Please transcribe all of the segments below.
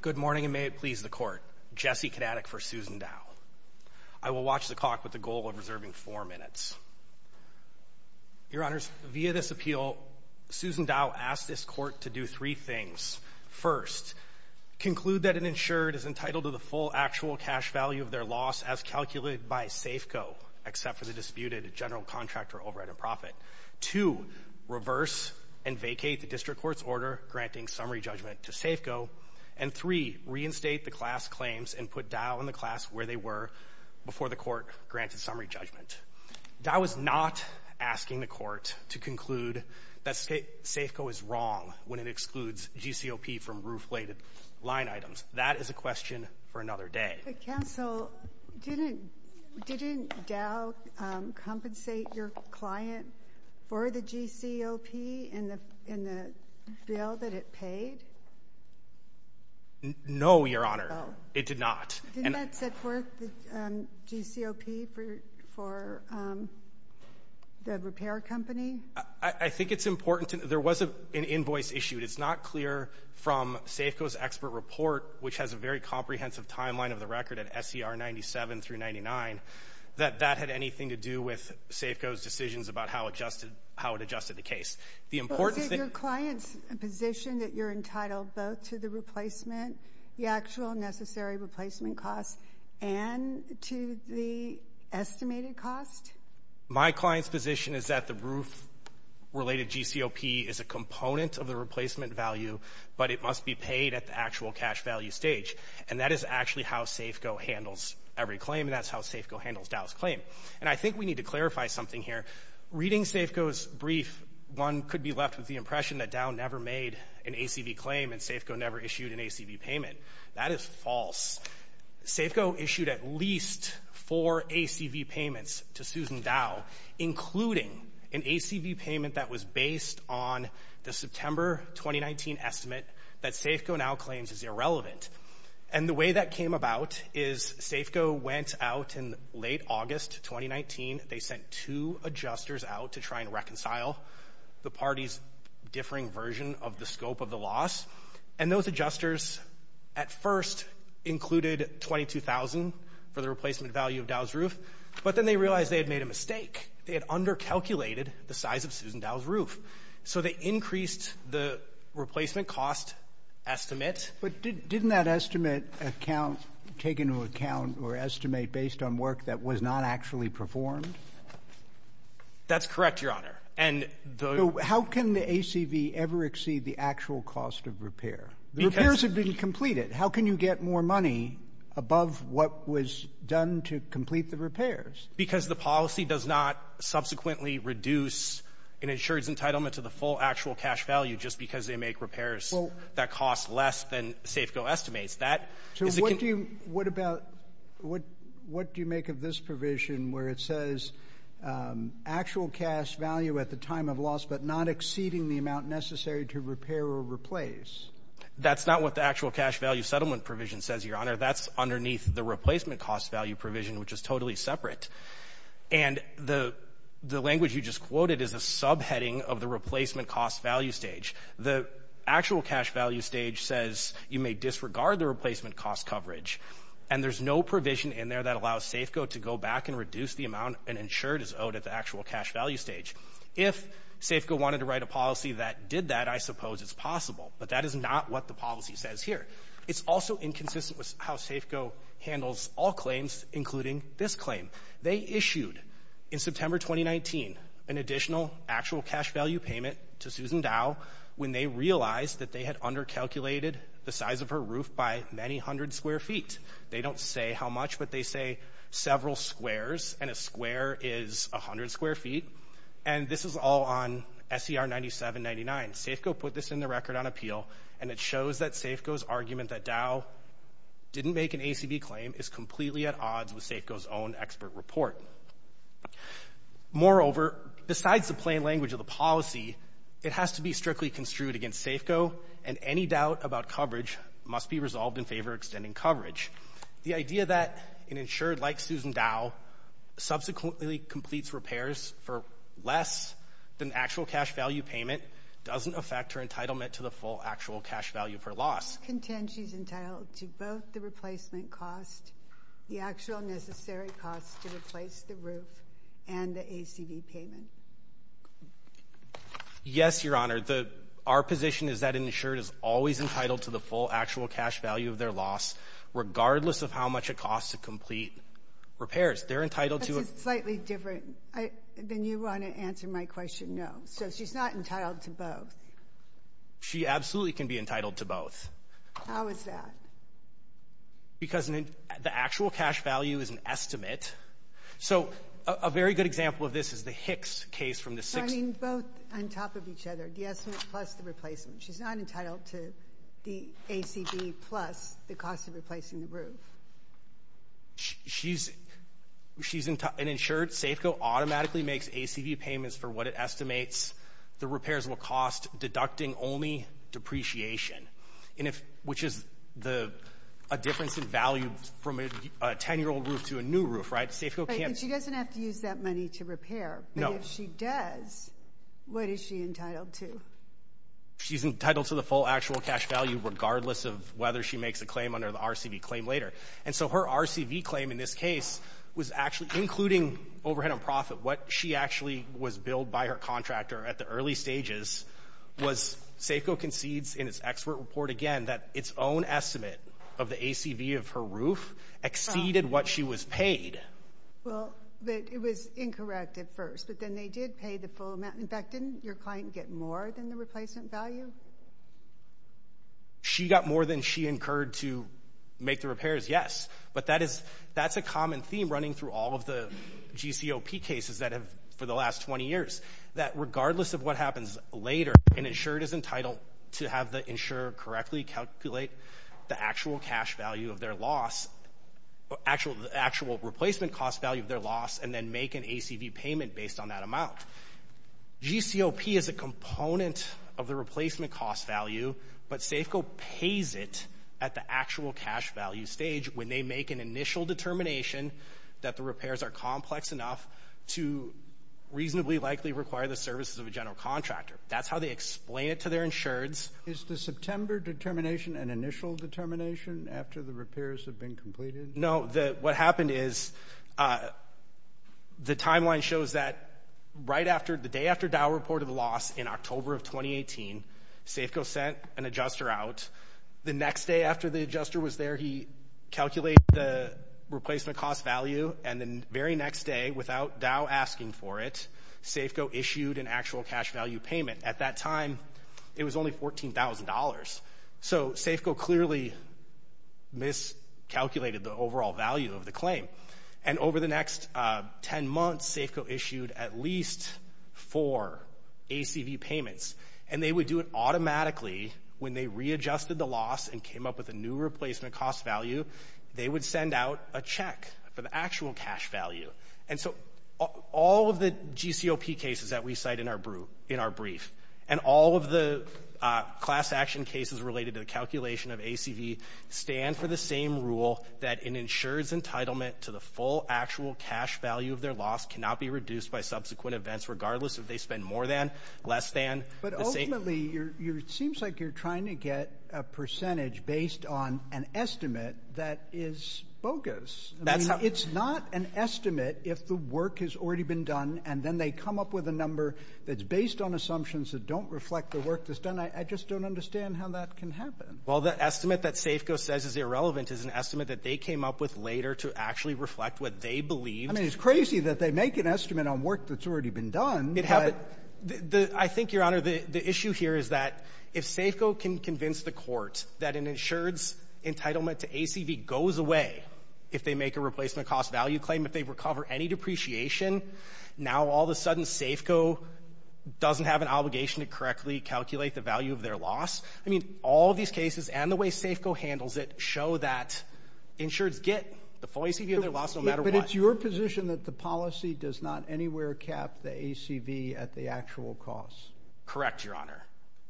Good morning and may it please the court. Jesse Kanatic for Susan Dow. I will watch the clock with the goal of reserving four minutes. Your honors, via this appeal, Susan Dow asked this court to do three things. First, conclude that an insured is entitled to the full actual cash value of their loss as calculated by Safeco, except for the disputed general contractor over at a profit. Two, reverse and vacate the district court's order granting summary judgment to Safeco and three, reinstate the class claims and put Dow and the class where they were before the court granted summary judgment. Dow is not asking the court to conclude that Safeco is wrong when it excludes GCOP from roof-laded line items. That is a question for another day. Counsel, didn't Dow compensate your client for the GCOP in the bill that it paid? No, your honor, it did not. Didn't that set forth the GCOP for the repair company? I think it's important. There was an invoice issued. It's not clear from Safeco's expert report, which has a very comprehensive timeline of the record at SCR 97 through 99, that that had anything to do with Safeco's decisions about how it adjusted the case. Was it your client's position that you're entitled both to the replacement, the actual necessary replacement costs, and to the estimated cost? My client's position is that the roof-related GCOP is a component of the replacement value, but it must be paid at the actual cash value stage. And that is actually how Safeco handles every claim, and that's how Safeco handles Dow's claim. And I think we need to clarify something here. Reading Safeco's brief, one could be left with the impression that Dow never made an ACV claim and Safeco never issued an ACV payment. That is false. Safeco issued at least four ACV payments to Susan Dow, including an ACV payment that was based on the September 2019 estimate that Safeco now claims is irrelevant. And the way that came about is Safeco went out in late August 2019. They sent two adjusters out to try and reconcile the party's differing version of the scope of the loss. And those adjusters at first included $22,000 for the replacement value of Dow's roof, but then they realized they had made a mistake. They had under-calculated the size of Susan Dow's roof. So they increased the replacement cost estimate. But didn't that estimate account take into account or estimate based on work that was not actually performed? That's correct, Your Honor. And the... How can the ACV ever exceed the actual cost of repair? The repairs have been completed. How can you get more money above what was done to complete the repairs? Because the policy does not subsequently reduce an insurer's entitlement to the full actual cash value just because they make repairs that cost less than Safeco estimates. So what do you make of this provision where it says actual cash value at the time of loss but not exceeding the amount necessary to repair or replace? That's not what the actual cash value settlement provision says, Your Honor. That's underneath the replacement cost value provision, which is totally separate. And the language you just quoted is a subheading of the replacement cost value stage. The actual cash value stage says you may disregard the replacement cost coverage. And there's no provision in there that allows Safeco to go back and reduce the amount an insurer is owed at the cash value stage. If Safeco wanted to write a policy that did that, I suppose it's possible. But that is not what the policy says here. It's also inconsistent with how Safeco handles all claims, including this claim. They issued in September 2019 an additional actual cash value payment to Susan Dow when they realized that they had under-calculated the size of her roof by many hundred square feet. They don't say how much, but they say several squares. And a square is 100 square feet. And this is all on SCR 9799. Safeco put this in the record on appeal, and it shows that Safeco's argument that Dow didn't make an ACB claim is completely at odds with Safeco's own expert report. Moreover, besides the plain language of the policy, it has to be strictly construed against Safeco, and any doubt about coverage must be resolved in favor of extending coverage. The idea that an insured like Susan Dow subsequently completes repairs for less than actual cash value payment doesn't affect her entitlement to the full actual cash value for loss. Contend she's entitled to both the replacement cost, the actual necessary cost to replace the roof, and the ACB payment? Yes, Your Honor. Our position is that an insured is always entitled to the full cash value of their loss, regardless of how much it costs to complete repairs. They're entitled to a slightly different, then you want to answer my question? No. So she's not entitled to both. She absolutely can be entitled to both. How is that? Because the actual cash value is an estimate. So a very good example of this is the Hicks case from the sixth. I mean, both on top of each other, the estimate plus the replacement. She's not entitled to the ACB plus the cost of replacing the roof. She's an insured. Safeco automatically makes ACB payments for what it estimates the repairs will cost, deducting only depreciation, which is a difference in value from a 10-year-old roof to a new roof, right? But she doesn't have to use that money to repair. No. But if she does, what is she entitled to? She's entitled to the full actual cash value, regardless of whether she makes a claim under the RCV claim later. And so her RCV claim in this case was actually, including overhead and profit, what she actually was billed by her contractor at the early stages was, Safeco concedes in its expert report again, that its own estimate of the ACB of her roof exceeded what she was paid. Well, but it was incorrect at first, but then they did pay the full amount. In fact, didn't your client get more than the replacement value? She got more than she incurred to make the repairs, yes. But that's a common theme running through all of the GCOP cases that have, for the last 20 years, that regardless of what happens later, an insurer is entitled to have the insurer correctly calculate the actual cash value of their loss, actual replacement cost value of their loss, and then make an ACV payment based on that amount. GCOP is a component of the replacement cost value, but Safeco pays it at the actual cash value stage when they make an initial determination that the repairs are complex enough to reasonably likely require the services of a general contractor. That's how they explain it to their insureds. Is the September determination an initial determination after the repairs have been completed? No, what happened is, the timeline shows that right after, the day after Dow reported the loss in October of 2018, Safeco sent an adjuster out. The next day after the adjuster was there, he calculated the replacement cost value, and the very next day, without Dow asking for it, Safeco issued an actual cash value payment. At that time, it was only $14,000. So, Safeco clearly miscalculated the overall value of the claim. And over the next 10 months, Safeco issued at least four ACV payments, and they would do it automatically when they readjusted the loss and came up with a new replacement cost value. They would send out a check for the actual cash value. And so, all of the GCOP cases that we cite in our brief, and all of the class action cases related to the calculation of ACV, stand for the same rule that an insured's entitlement to the full actual cash value of their loss cannot be reduced by subsequent events, regardless if they spend more than, less than. But ultimately, it seems like you're trying to get a percentage based on an estimate that is bogus. I mean, it's not an estimate if the work has already been done, and then they come up with a number that's based on assumptions that don't reflect the work that's done. I just don't understand how that can happen. Well, the estimate that Safeco says is irrelevant is an estimate that they came up with later to actually reflect what they believed. I mean, it's crazy that they make an estimate on work that's already been done. It happened. I think, Your Honor, the issue here is that if Safeco can convince the Court that an insured's entitlement to ACV goes away if they make a replacement cost value claim, if they recover any depreciation, now all of a sudden Safeco doesn't have an obligation to correctly calculate the value of their loss. I mean, all of these cases and the way Safeco handles it show that insured's get the full ACV of their loss no matter what. But it's your position that the policy does not anywhere cap the ACV at the actual cost? Correct, Your Honor.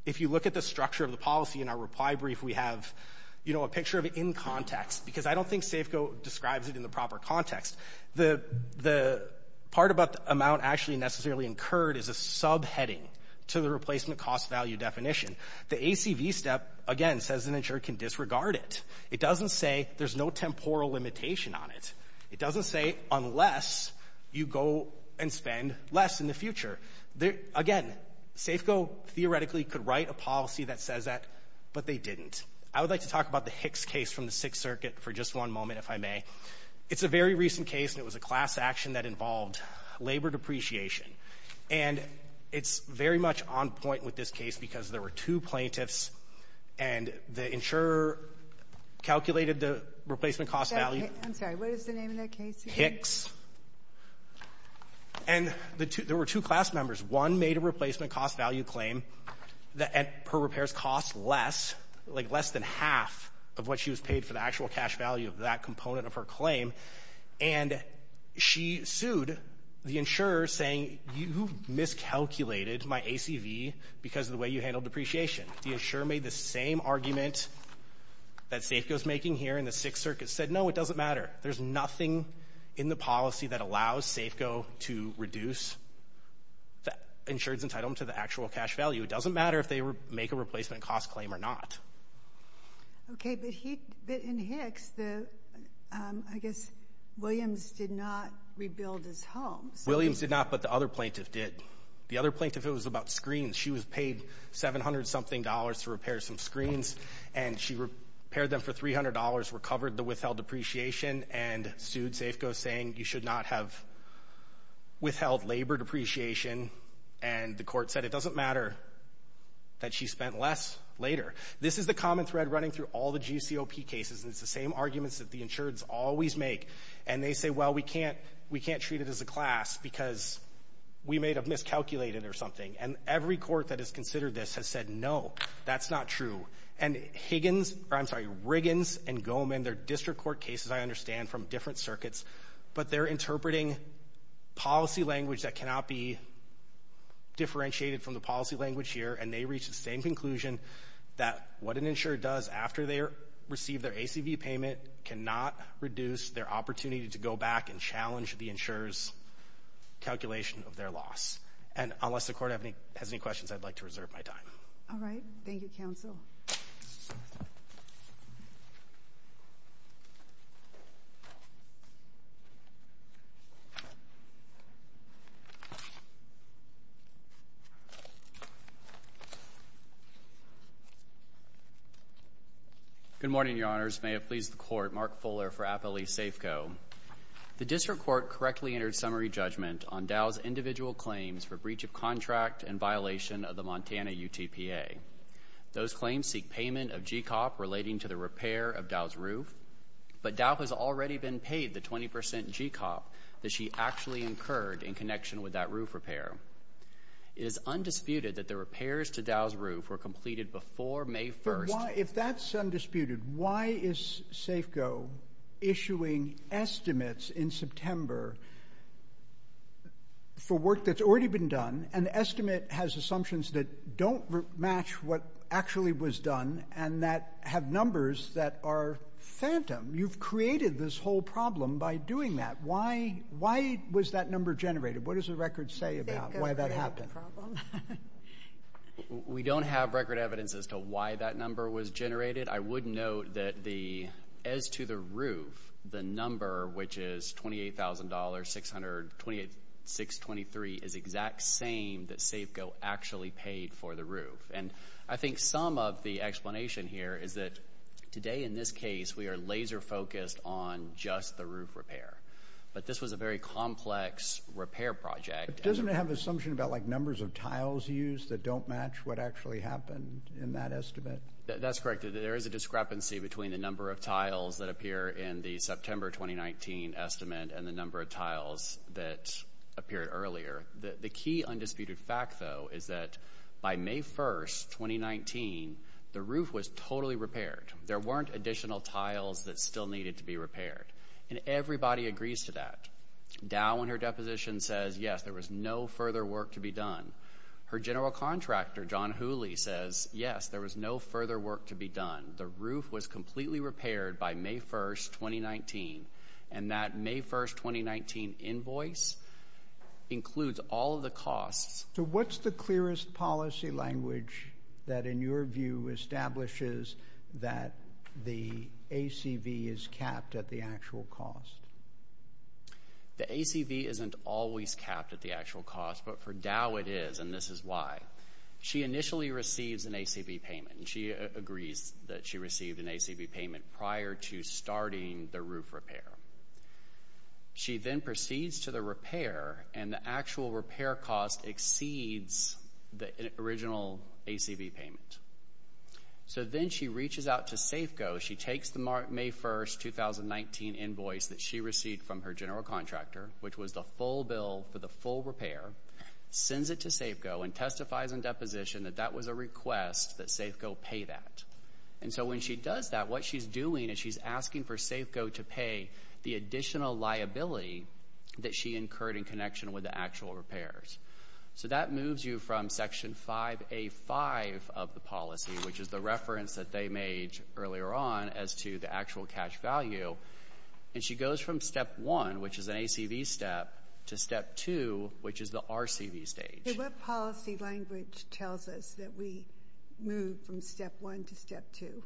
If you look at the structure of the policy in our reply brief, we have, you know, a picture of it in context, because I don't think Safeco describes it in the proper context. The part about the amount actually necessarily incurred is a subheading to the replacement cost value definition. The ACV step, again, says an insured can disregard it. It doesn't say there's no temporal limitation on it. It doesn't say unless you go and spend less in the future. Again, Safeco theoretically could write a policy that says that, but they didn't. I would like to talk about the Hicks case from the Sixth Circuit for just one moment, if I may. It's a very recent case and it was a class action that involved labor depreciation. And it's very much on point with this case because there were two plaintiffs and the insurer calculated the replacement cost value. I'm sorry, what is the name of that case again? Hicks. And there were two class members. One made a replacement cost value claim that her repairs cost less, like less than half of what she was paid for the actual cash value of that component of her claim. And she sued the insurer saying, you miscalculated my ACV because of the way you handled depreciation. The insurer made the same argument that Safeco's making here in the Sixth Circuit, said, no, it doesn't matter. There's nothing in the policy that allows Safeco to reduce the insurer's entitlement to the actual cash value. It doesn't matter if they make a replacement cost claim or not. Okay, but in Hicks, I guess Williams did not rebuild his home. Williams did not, but the other plaintiff did. The other plaintiff, it was about screens. She was 700-something dollars to repair some screens, and she repaired them for $300, recovered the withheld depreciation, and sued Safeco saying, you should not have withheld labor depreciation. And the court said, it doesn't matter that she spent less later. This is the common thread running through all the GCOP cases, and it's the same arguments that the insureds always make. And they say, well, we can't treat it as a class because we may have miscalculated or something. And every court that has considered this has said, no, that's not true. And Higgins, or I'm sorry, Riggins and Goleman, they're district court cases, I understand, from different circuits, but they're interpreting policy language that cannot be differentiated from the policy language here. And they reached the same conclusion that what an insurer does after they receive their ACV payment cannot reduce their opportunity to go back and challenge the insurer's calculation of their loss. And unless the court has any questions, I'd like to reserve my time. All right. Thank you, counsel. Good morning, Your Honors. May it please the court, Mark Fuller for Appalachia Safeco. The district court correctly entered summary judgment on Dow's individual claims for breach of contract and violation of the Montana UTPA. Those claims seek payment of GCOP relating to the repair of Dow's roof, but Dow has already been paid the 20 percent GCOP that she actually incurred in connection with that roof repair. It is undisputed that the repairs to Dow's roof were completed before May 1st. If that's undisputed, why is Safeco issuing estimates in September for work that's already been done, and the estimate has assumptions that don't match what actually was done, and that have numbers that are phantom? You've created this whole problem by doing that. Why was that number generated? What does the record say about why that happened? We don't have record evidence as to why that number was generated. I would note that as to the roof, the number, which is $28,623, is the exact same that Safeco actually paid for the roof, and I think some of the explanation here is that today in this case, we are laser focused on just the roof repair, but this was a very complex repair project. Doesn't it have an assumption about numbers of tiles used that don't match what actually happened in that estimate? That's correct. There is a discrepancy between the number of tiles that appear in the September 2019 estimate and the number of tiles that appeared earlier. The key undisputed fact, though, is that by May 1st, 2019, the roof was totally repaired. There weren't additional tiles that still needed to be repaired, and everybody agrees to that. Dow, in her deposition, says, yes, there was no further work to be done. Her general contractor, John Hooley, says, yes, there was no further work to be done. The roof was completely repaired by May 1st, 2019, and that May 1st, 2019 invoice includes all of the costs. So what's the clearest policy language that, in your view, establishes that the ACV is capped at the actual cost? The ACV isn't always capped at the actual cost, but for Dow it is, and this is why. She initially receives an ACV payment, and she agrees that she received an ACV payment prior to starting the roof repair. She then proceeds to the repair, and the actual repair cost exceeds the original ACV payment. So then she reaches out to Safeco. She takes the May 1st, 2019 invoice that she received from her general contractor, which was the full bill for the full repair, sends it to Safeco, and testifies in deposition that that was a request that Safeco pay that. And so when she does that, what she's doing is she's asking for Safeco to pay the additional liability that she incurred in connection with the actual repairs. So that moves you from Section 5A.5 of the policy, which is the reference that they made earlier on as to the actual cash value, and she goes from Step 1, which is an ACV step, to Step 2, which is the RCV stage. What policy language tells us that we move from Step 1 to Step 2?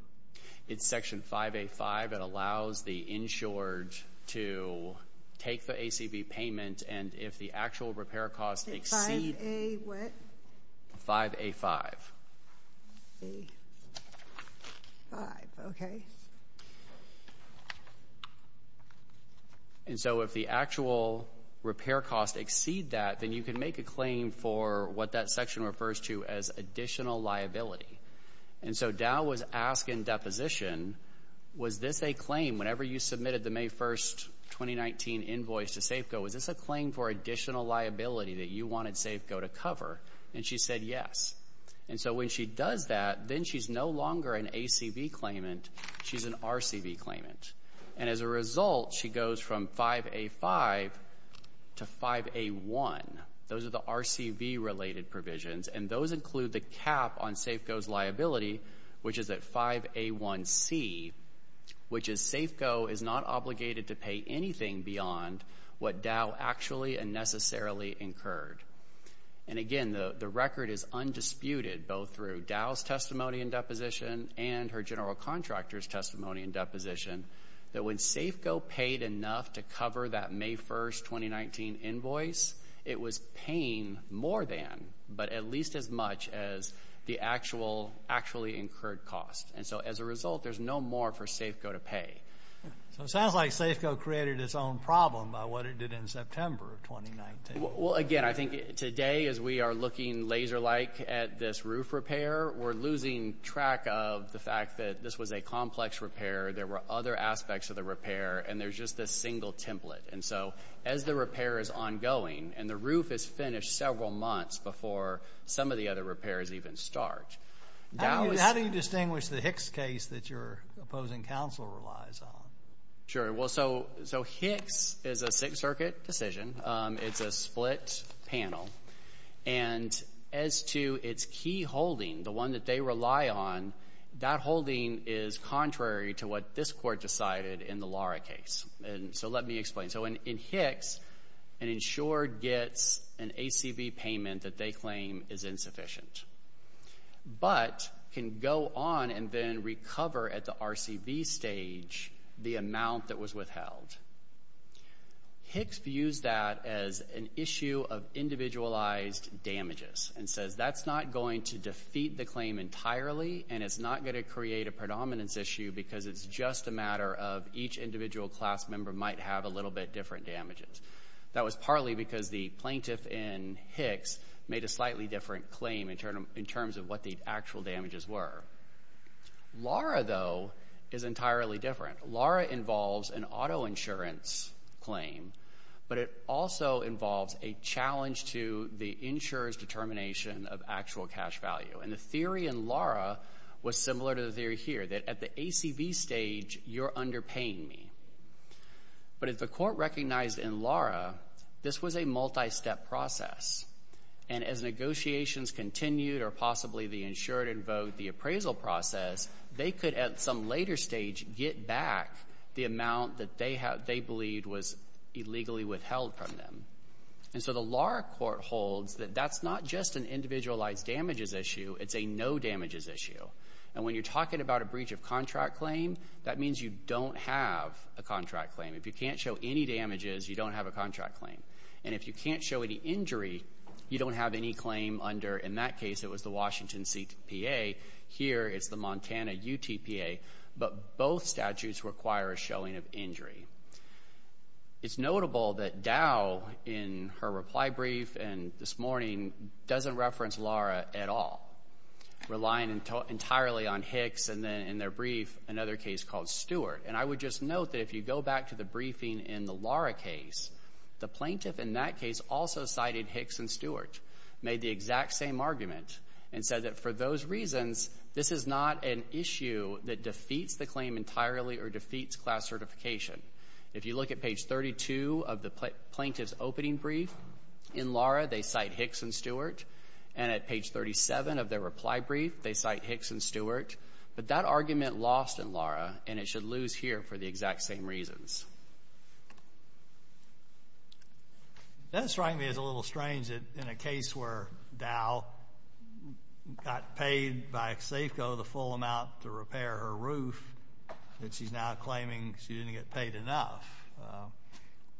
It's Section 5A.5. It allows the insured to take the ACV payment, and if the actual repair costs exceed 5A.5. Okay. And so if the actual repair costs exceed that, then you can make a claim for what that section refers to as additional liability. And so Dow was asking in deposition, was this a claim, whenever you submitted the May 1, 2019 invoice to Safeco, was this a claim for additional liability that you wanted Safeco to cover? And she said yes. And so when she does that, then she's no longer an ACV claimant. She's an RCV claimant. And as a result, she goes from 5A.5 to 5A.1. Those are the RCV-related provisions, and those include the cap on Safeco's liability, which is at 5A.1.C., which is Safeco is not obligated to pay anything beyond what Dow actually and necessarily incurred. And again, the record is undisputed, both through Dow's testimony in deposition and her general contractor's testimony in deposition, that when Safeco paid enough to cover that May 1, 2019 invoice, it was paying more than, but at least as much as the actual actually incurred cost. And so as a result, there's no more for Safeco to pay. So it sounds like Safeco created its own problem by what it did in September of 2019. Well, again, I think today, as we are looking laser-like at this roof repair, we're losing track of the fact that this was a complex repair, there were other aspects of the repair, and there's just this single template. And so as the repair is ongoing, and the roof is finished several months before some of the other repairs even start, Dow is— How do you distinguish the Hicks case that your opposing counsel relies on? Sure. Well, so Hicks is a Sixth Circuit decision. It's a split panel. And as to its key holding, the one that they rely on, that holding is contrary to what this court decided in the Lara case. And so let me explain. So in Hicks, an insured gets an ACV payment that they claim is insufficient, but can go on and then recover at the RCV stage the amount that was withheld. Hicks views that as an issue of individualized damages and says that's not going to defeat the claim entirely, and it's not going to create a predominance issue because it's just a matter of each individual class member might have a little bit different damages. That was partly because the plaintiff in Hicks made a slightly different claim in terms of what the actual damages were. Lara, though, is entirely different. Lara involves an auto insurance claim, but it also involves a challenge to the insurer's determination of actual cash value. And the theory in Lara was similar to the theory here, that at the ACV stage, you're underpaying me. But if the court recognized in Lara, this was a multi-step process. And as negotiations continued or possibly the insured invoked the appraisal process, they could, at some later stage, get back the amount that they believed was illegally withheld from them. And so the Lara court holds that that's not just an individualized damages issue, it's a no damages issue. And when you're talking about a breach of contract claim, that means you don't have a contract claim. If you can't show any damages, you don't have a contract claim. And if you can't show any injury, you don't have any claim under, in that case, it was the Washington CPA. Here it's the Montana UTPA. But both statutes require a showing of injury. It's notable that Dow in her reply brief and this morning doesn't reference Lara at all, relying entirely on Hicks and then in their brief, another case called Stewart. And I would just note that if you go back to the briefing in the Lara case, the plaintiff in that case also cited Hicks and Stewart, made the exact same argument, and said that for those reasons, this is not an issue that defeats the claim entirely or defeats class certification. If you look at page 32 of the plaintiff's opening brief, in Lara, they cite Hicks and Stewart. And at page 37 of their reply brief, they cite Hicks and Stewart. But that argument lost in Lara, and it should lose here for the exact same reasons. That, strikingly, is a little strange in a case where Dow got paid by Safeco the full amount to repair her roof that she's now claiming she didn't get paid enough.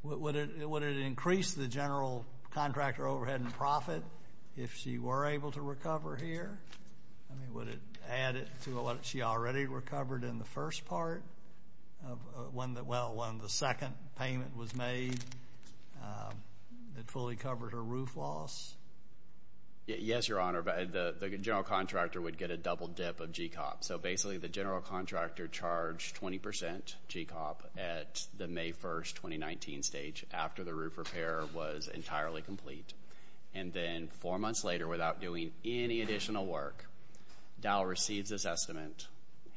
Would it increase the general contractor overhead and profit if she were able to recover here? I mean, would it add it to what she already recovered in the first part? Well, when the second payment was made, it fully covered her roof loss? Yes, Your Honor. The general contractor would get a double dip of GCOP. So basically, the general contractor charged 20% GCOP at the May 1st, 2019 stage, after the roof repair was entirely complete. And then, four months later, without doing any additional work, Dow receives this estimate,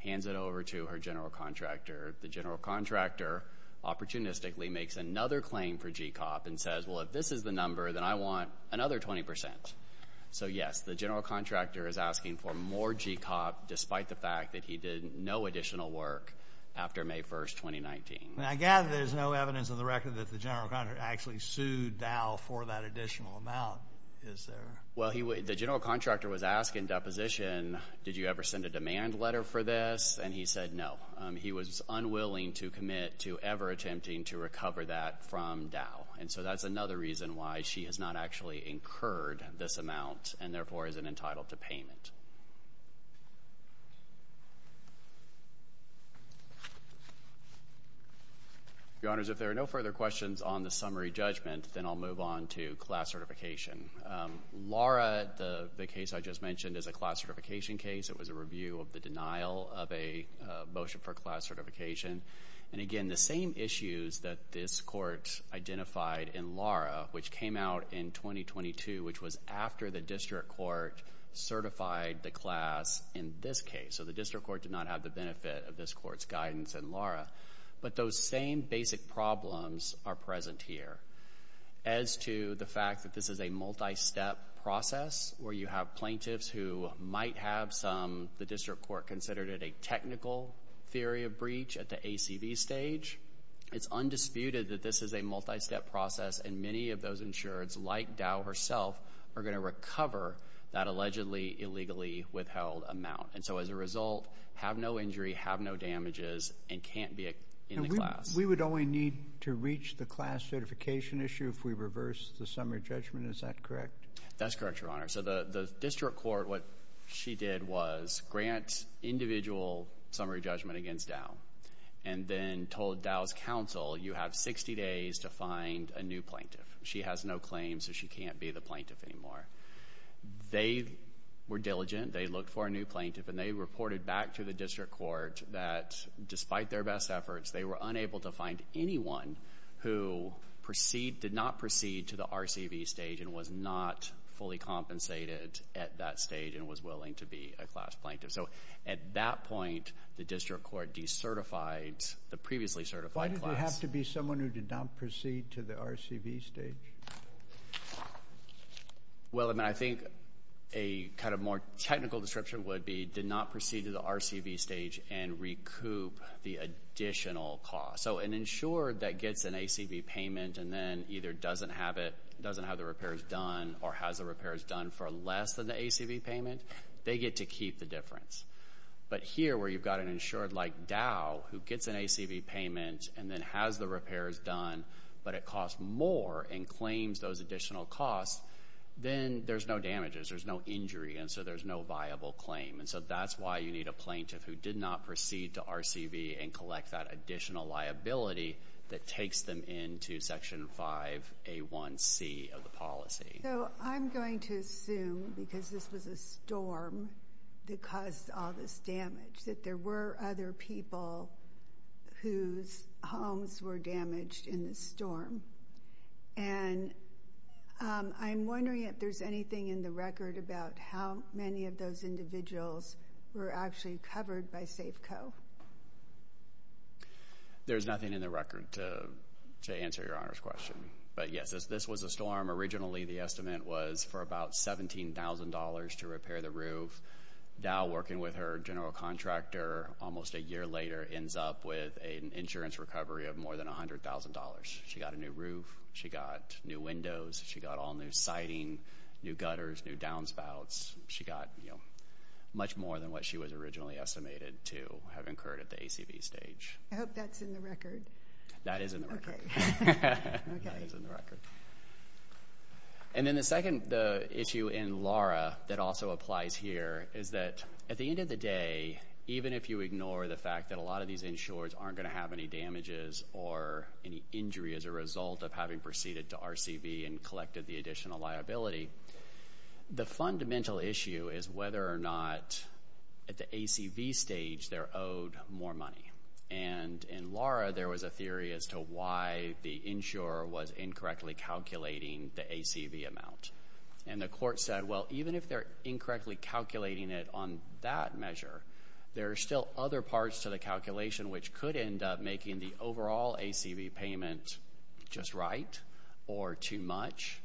hands it over to her general contractor. The general contractor, opportunistically, makes another claim for GCOP and says, well, if this is the number, then I want another 20%. So yes, the general contractor is asking for more GCOP, despite the fact that he did no additional work after May 1st, 2019. I gather there's no evidence in the record that the general contractor actually sued Dow for that additional amount. Is there? Well, the general contractor was asked in deposition, did you ever send a demand letter for this? And he said no. He was unwilling to commit to ever attempting to recover that from Dow. And so that's another reason why she has not actually incurred this amount and therefore isn't entitled to payment. Your Honors, if there are no further questions on the summary judgment, then I'll move on to class certification. Lara, the case I just mentioned, is a class certification case. It was a review of the denial of a motion for class certification. And again, the same issues that this Court identified in Lara, which came out in 2022, which was after the District Court certified the class in this case. So the District Court did not have the benefit of this Court's guidance in Lara. But those same basic problems are present here. As to the fact that this is a multi-step process, where you have plaintiffs who might have some, the District Court considered it a technical theory of breach at the ACV stage, it's undisputed that this is a multi-step process and many of those insureds, like Dow herself, are going to recover that allegedly illegally withheld amount. And so as a result, have no injury, have no damages, and can't be in the class. We would only need to reach the class certification issue if we reverse the summary judgment, is that correct? That's correct, Your Honor. So the District Court, what she did was grant individual summary judgment against Dow. And then told Dow's counsel, you have 60 days to find a new plaintiff. She has no claim, so she can't be the plaintiff anymore. They were diligent. They looked for a new plaintiff. And they reported back to the District Court that despite their best efforts, they were unable to find anyone who did not proceed to the RCV stage and was not fully compensated at that stage and was willing to be a class plaintiff. So at that point, the District Court decertified the previously certified class. Why did it have to be someone who did not proceed to the RCV stage? Well, I mean, I think a kind of more technical description would be did not proceed to the RCV stage and recoup the additional cost. So an insured that gets an ACV payment and then either doesn't have the repairs done or has the repairs done for less than the ACV payment, they get to keep the difference. But here where you've got an insured like Dow who gets an ACV payment and then has the repairs done, but it costs more and claims those additional costs, then there's no damages. There's no injury, and so there's no viable claim. And so that's why you need a plaintiff who did not proceed to RCV and collect that additional liability that takes them into Section 5A1C of the policy. So I'm going to assume because this was a storm that caused all this damage that there were other people whose homes were damaged in the storm. And I'm wondering if there's anything in the record about how many of those individuals were actually covered by Safeco. There's nothing in the record to answer Your Honor's question. But, yes, this was a storm. Originally the estimate was for about $17,000 to repair the roof. Dow, working with her general contractor almost a year later, ends up with an insurance recovery of more than $100,000. She got a new roof. She got new windows. She got all new siding, new gutters, new downspouts. She got much more than what she was originally estimated to have incurred at the ACV stage. I hope that's in the record. That is in the record. Okay. That is in the record. And then the second issue in Laura that also applies here is that at the end of the day, even if you ignore the fact that a lot of these insurers aren't going to have any damages or any injury as a result of having proceeded to RCV and collected the additional liability, the fundamental issue is whether or not at the ACV stage they're owed more money. And in Laura there was a theory as to why the insurer was incorrectly calculating the ACV amount. And the court said, well, even if they're incorrectly calculating it on that measure, there are still other parts to the calculation which could end up making the overall ACV payment just right or too much.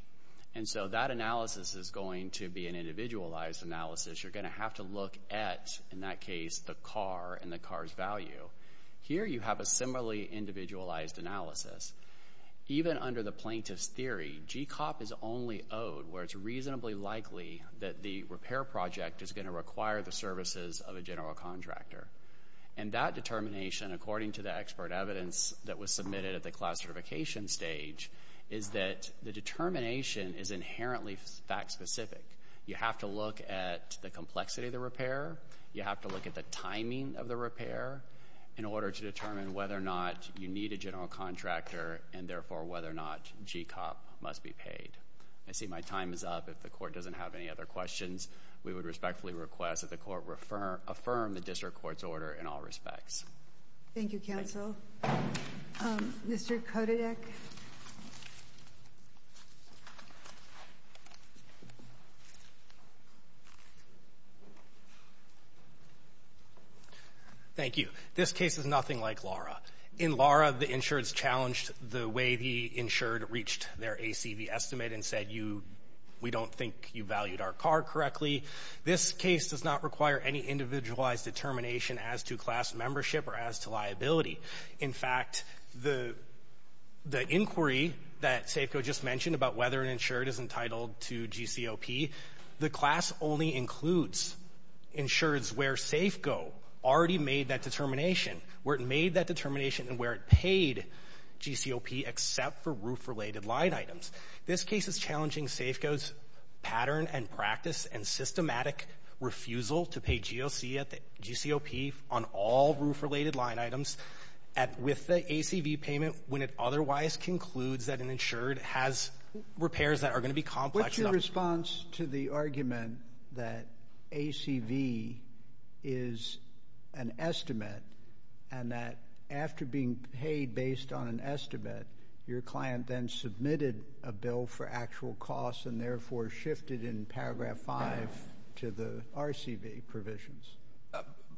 And so that analysis is going to be an individualized analysis. You're going to have to look at, in that case, the car and the car's value. Here you have a similarly individualized analysis. Even under the plaintiff's theory, GCOP is only owed where it's reasonably likely that the repair project is going to require the services of a general contractor. And that determination, according to the expert evidence that was submitted at the class certification stage, is that the determination is inherently fact specific. You have to look at the complexity of the repair. You have to look at the timing of the repair in order to determine whether or not you need a general contractor and therefore whether or not GCOP must be paid. I see my time is up. If the court doesn't have any other questions, we would respectfully request that the court affirm the district court's order in all respects. Thank you, counsel. Mr. Kotedik. Thank you. This case is nothing like Laura. In Laura, the insureds challenged the way the insured reached their ACV estimate and said, you — we don't think you valued our car correctly. This case does not require any individualized determination as to class membership or as to liability. In fact, the inquiry that SAFCO just mentioned about whether an insured is entitled to GCOP, the class only includes insureds where SAFCO already made that determination, where it made that determination and where it paid GCOP except for roof-related line items. This case is challenging SAFCO's pattern and practice and systematic refusal to pay GOC at the — GCOP on all roof-related line items with the ACV payment when it otherwise concludes that an insured has repairs that are going to be complex enough — What's your response to the argument that ACV is an estimate and that after being paid based on an estimate, your client then submitted a bill for actual costs and therefore shifted in paragraph 5 to the RCV provisions?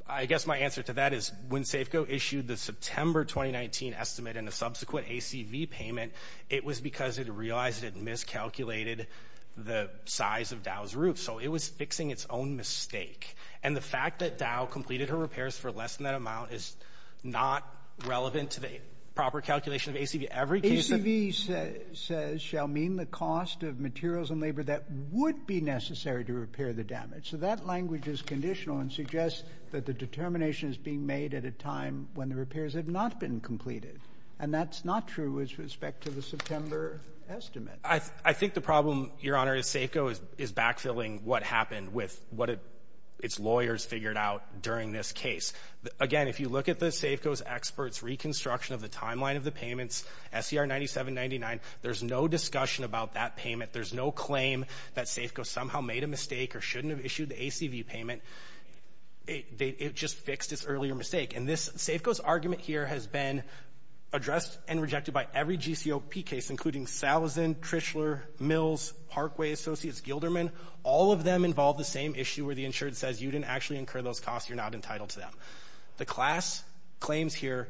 I guess my answer to that is when SAFCO issued the September 2019 estimate and the subsequent ACV payment, it was because it realized it miscalculated the size of Dow's roof. So it was fixing its own mistake. And the fact that Dow completed her repairs for less than that amount is not relevant to the proper calculation of ACV. Every case of — ACV says shall mean the cost of materials and labor that would be necessary to repair the damage. So that language is conditional and suggests that the determination is being made at a time when the repairs have not been completed. And that's not true with respect to the September estimate. I think the problem, Your Honor, is SAFCO is backfilling what happened with what its lawyers figured out during this case. Again, if you look at the SAFCO's experts' reconstruction of the timeline of the payments, SCR 9799, there's no discussion about that payment. There's no claim that SAFCO somehow made a mistake or shouldn't have issued the ACV payment. It just fixed its earlier mistake. And this SAFCO's argument here has been addressed and rejected by every GCOP case, including Salazen, Trishler, Mills, Parkway, Associates, Gilderman. All of them involve the same issue where the insured says you didn't actually incur those costs. You're not entitled to them. The class claims here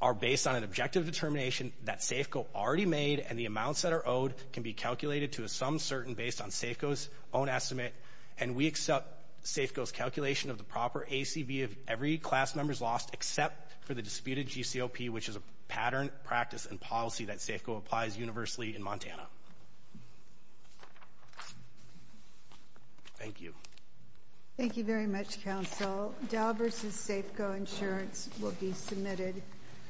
are based on an objective determination that SAFCO already made and the amounts that are owed can be calculated to some certain based on SAFCO's own estimate. And we accept SAFCO's calculation of the proper ACV of every class member's loss except for the disputed GCOP, which is a pattern, practice, and policy that SAFCO applies universally in Montana. Thank you. Thank you very much, Counsel. Dow v. SAFCO Insurance will be submitted.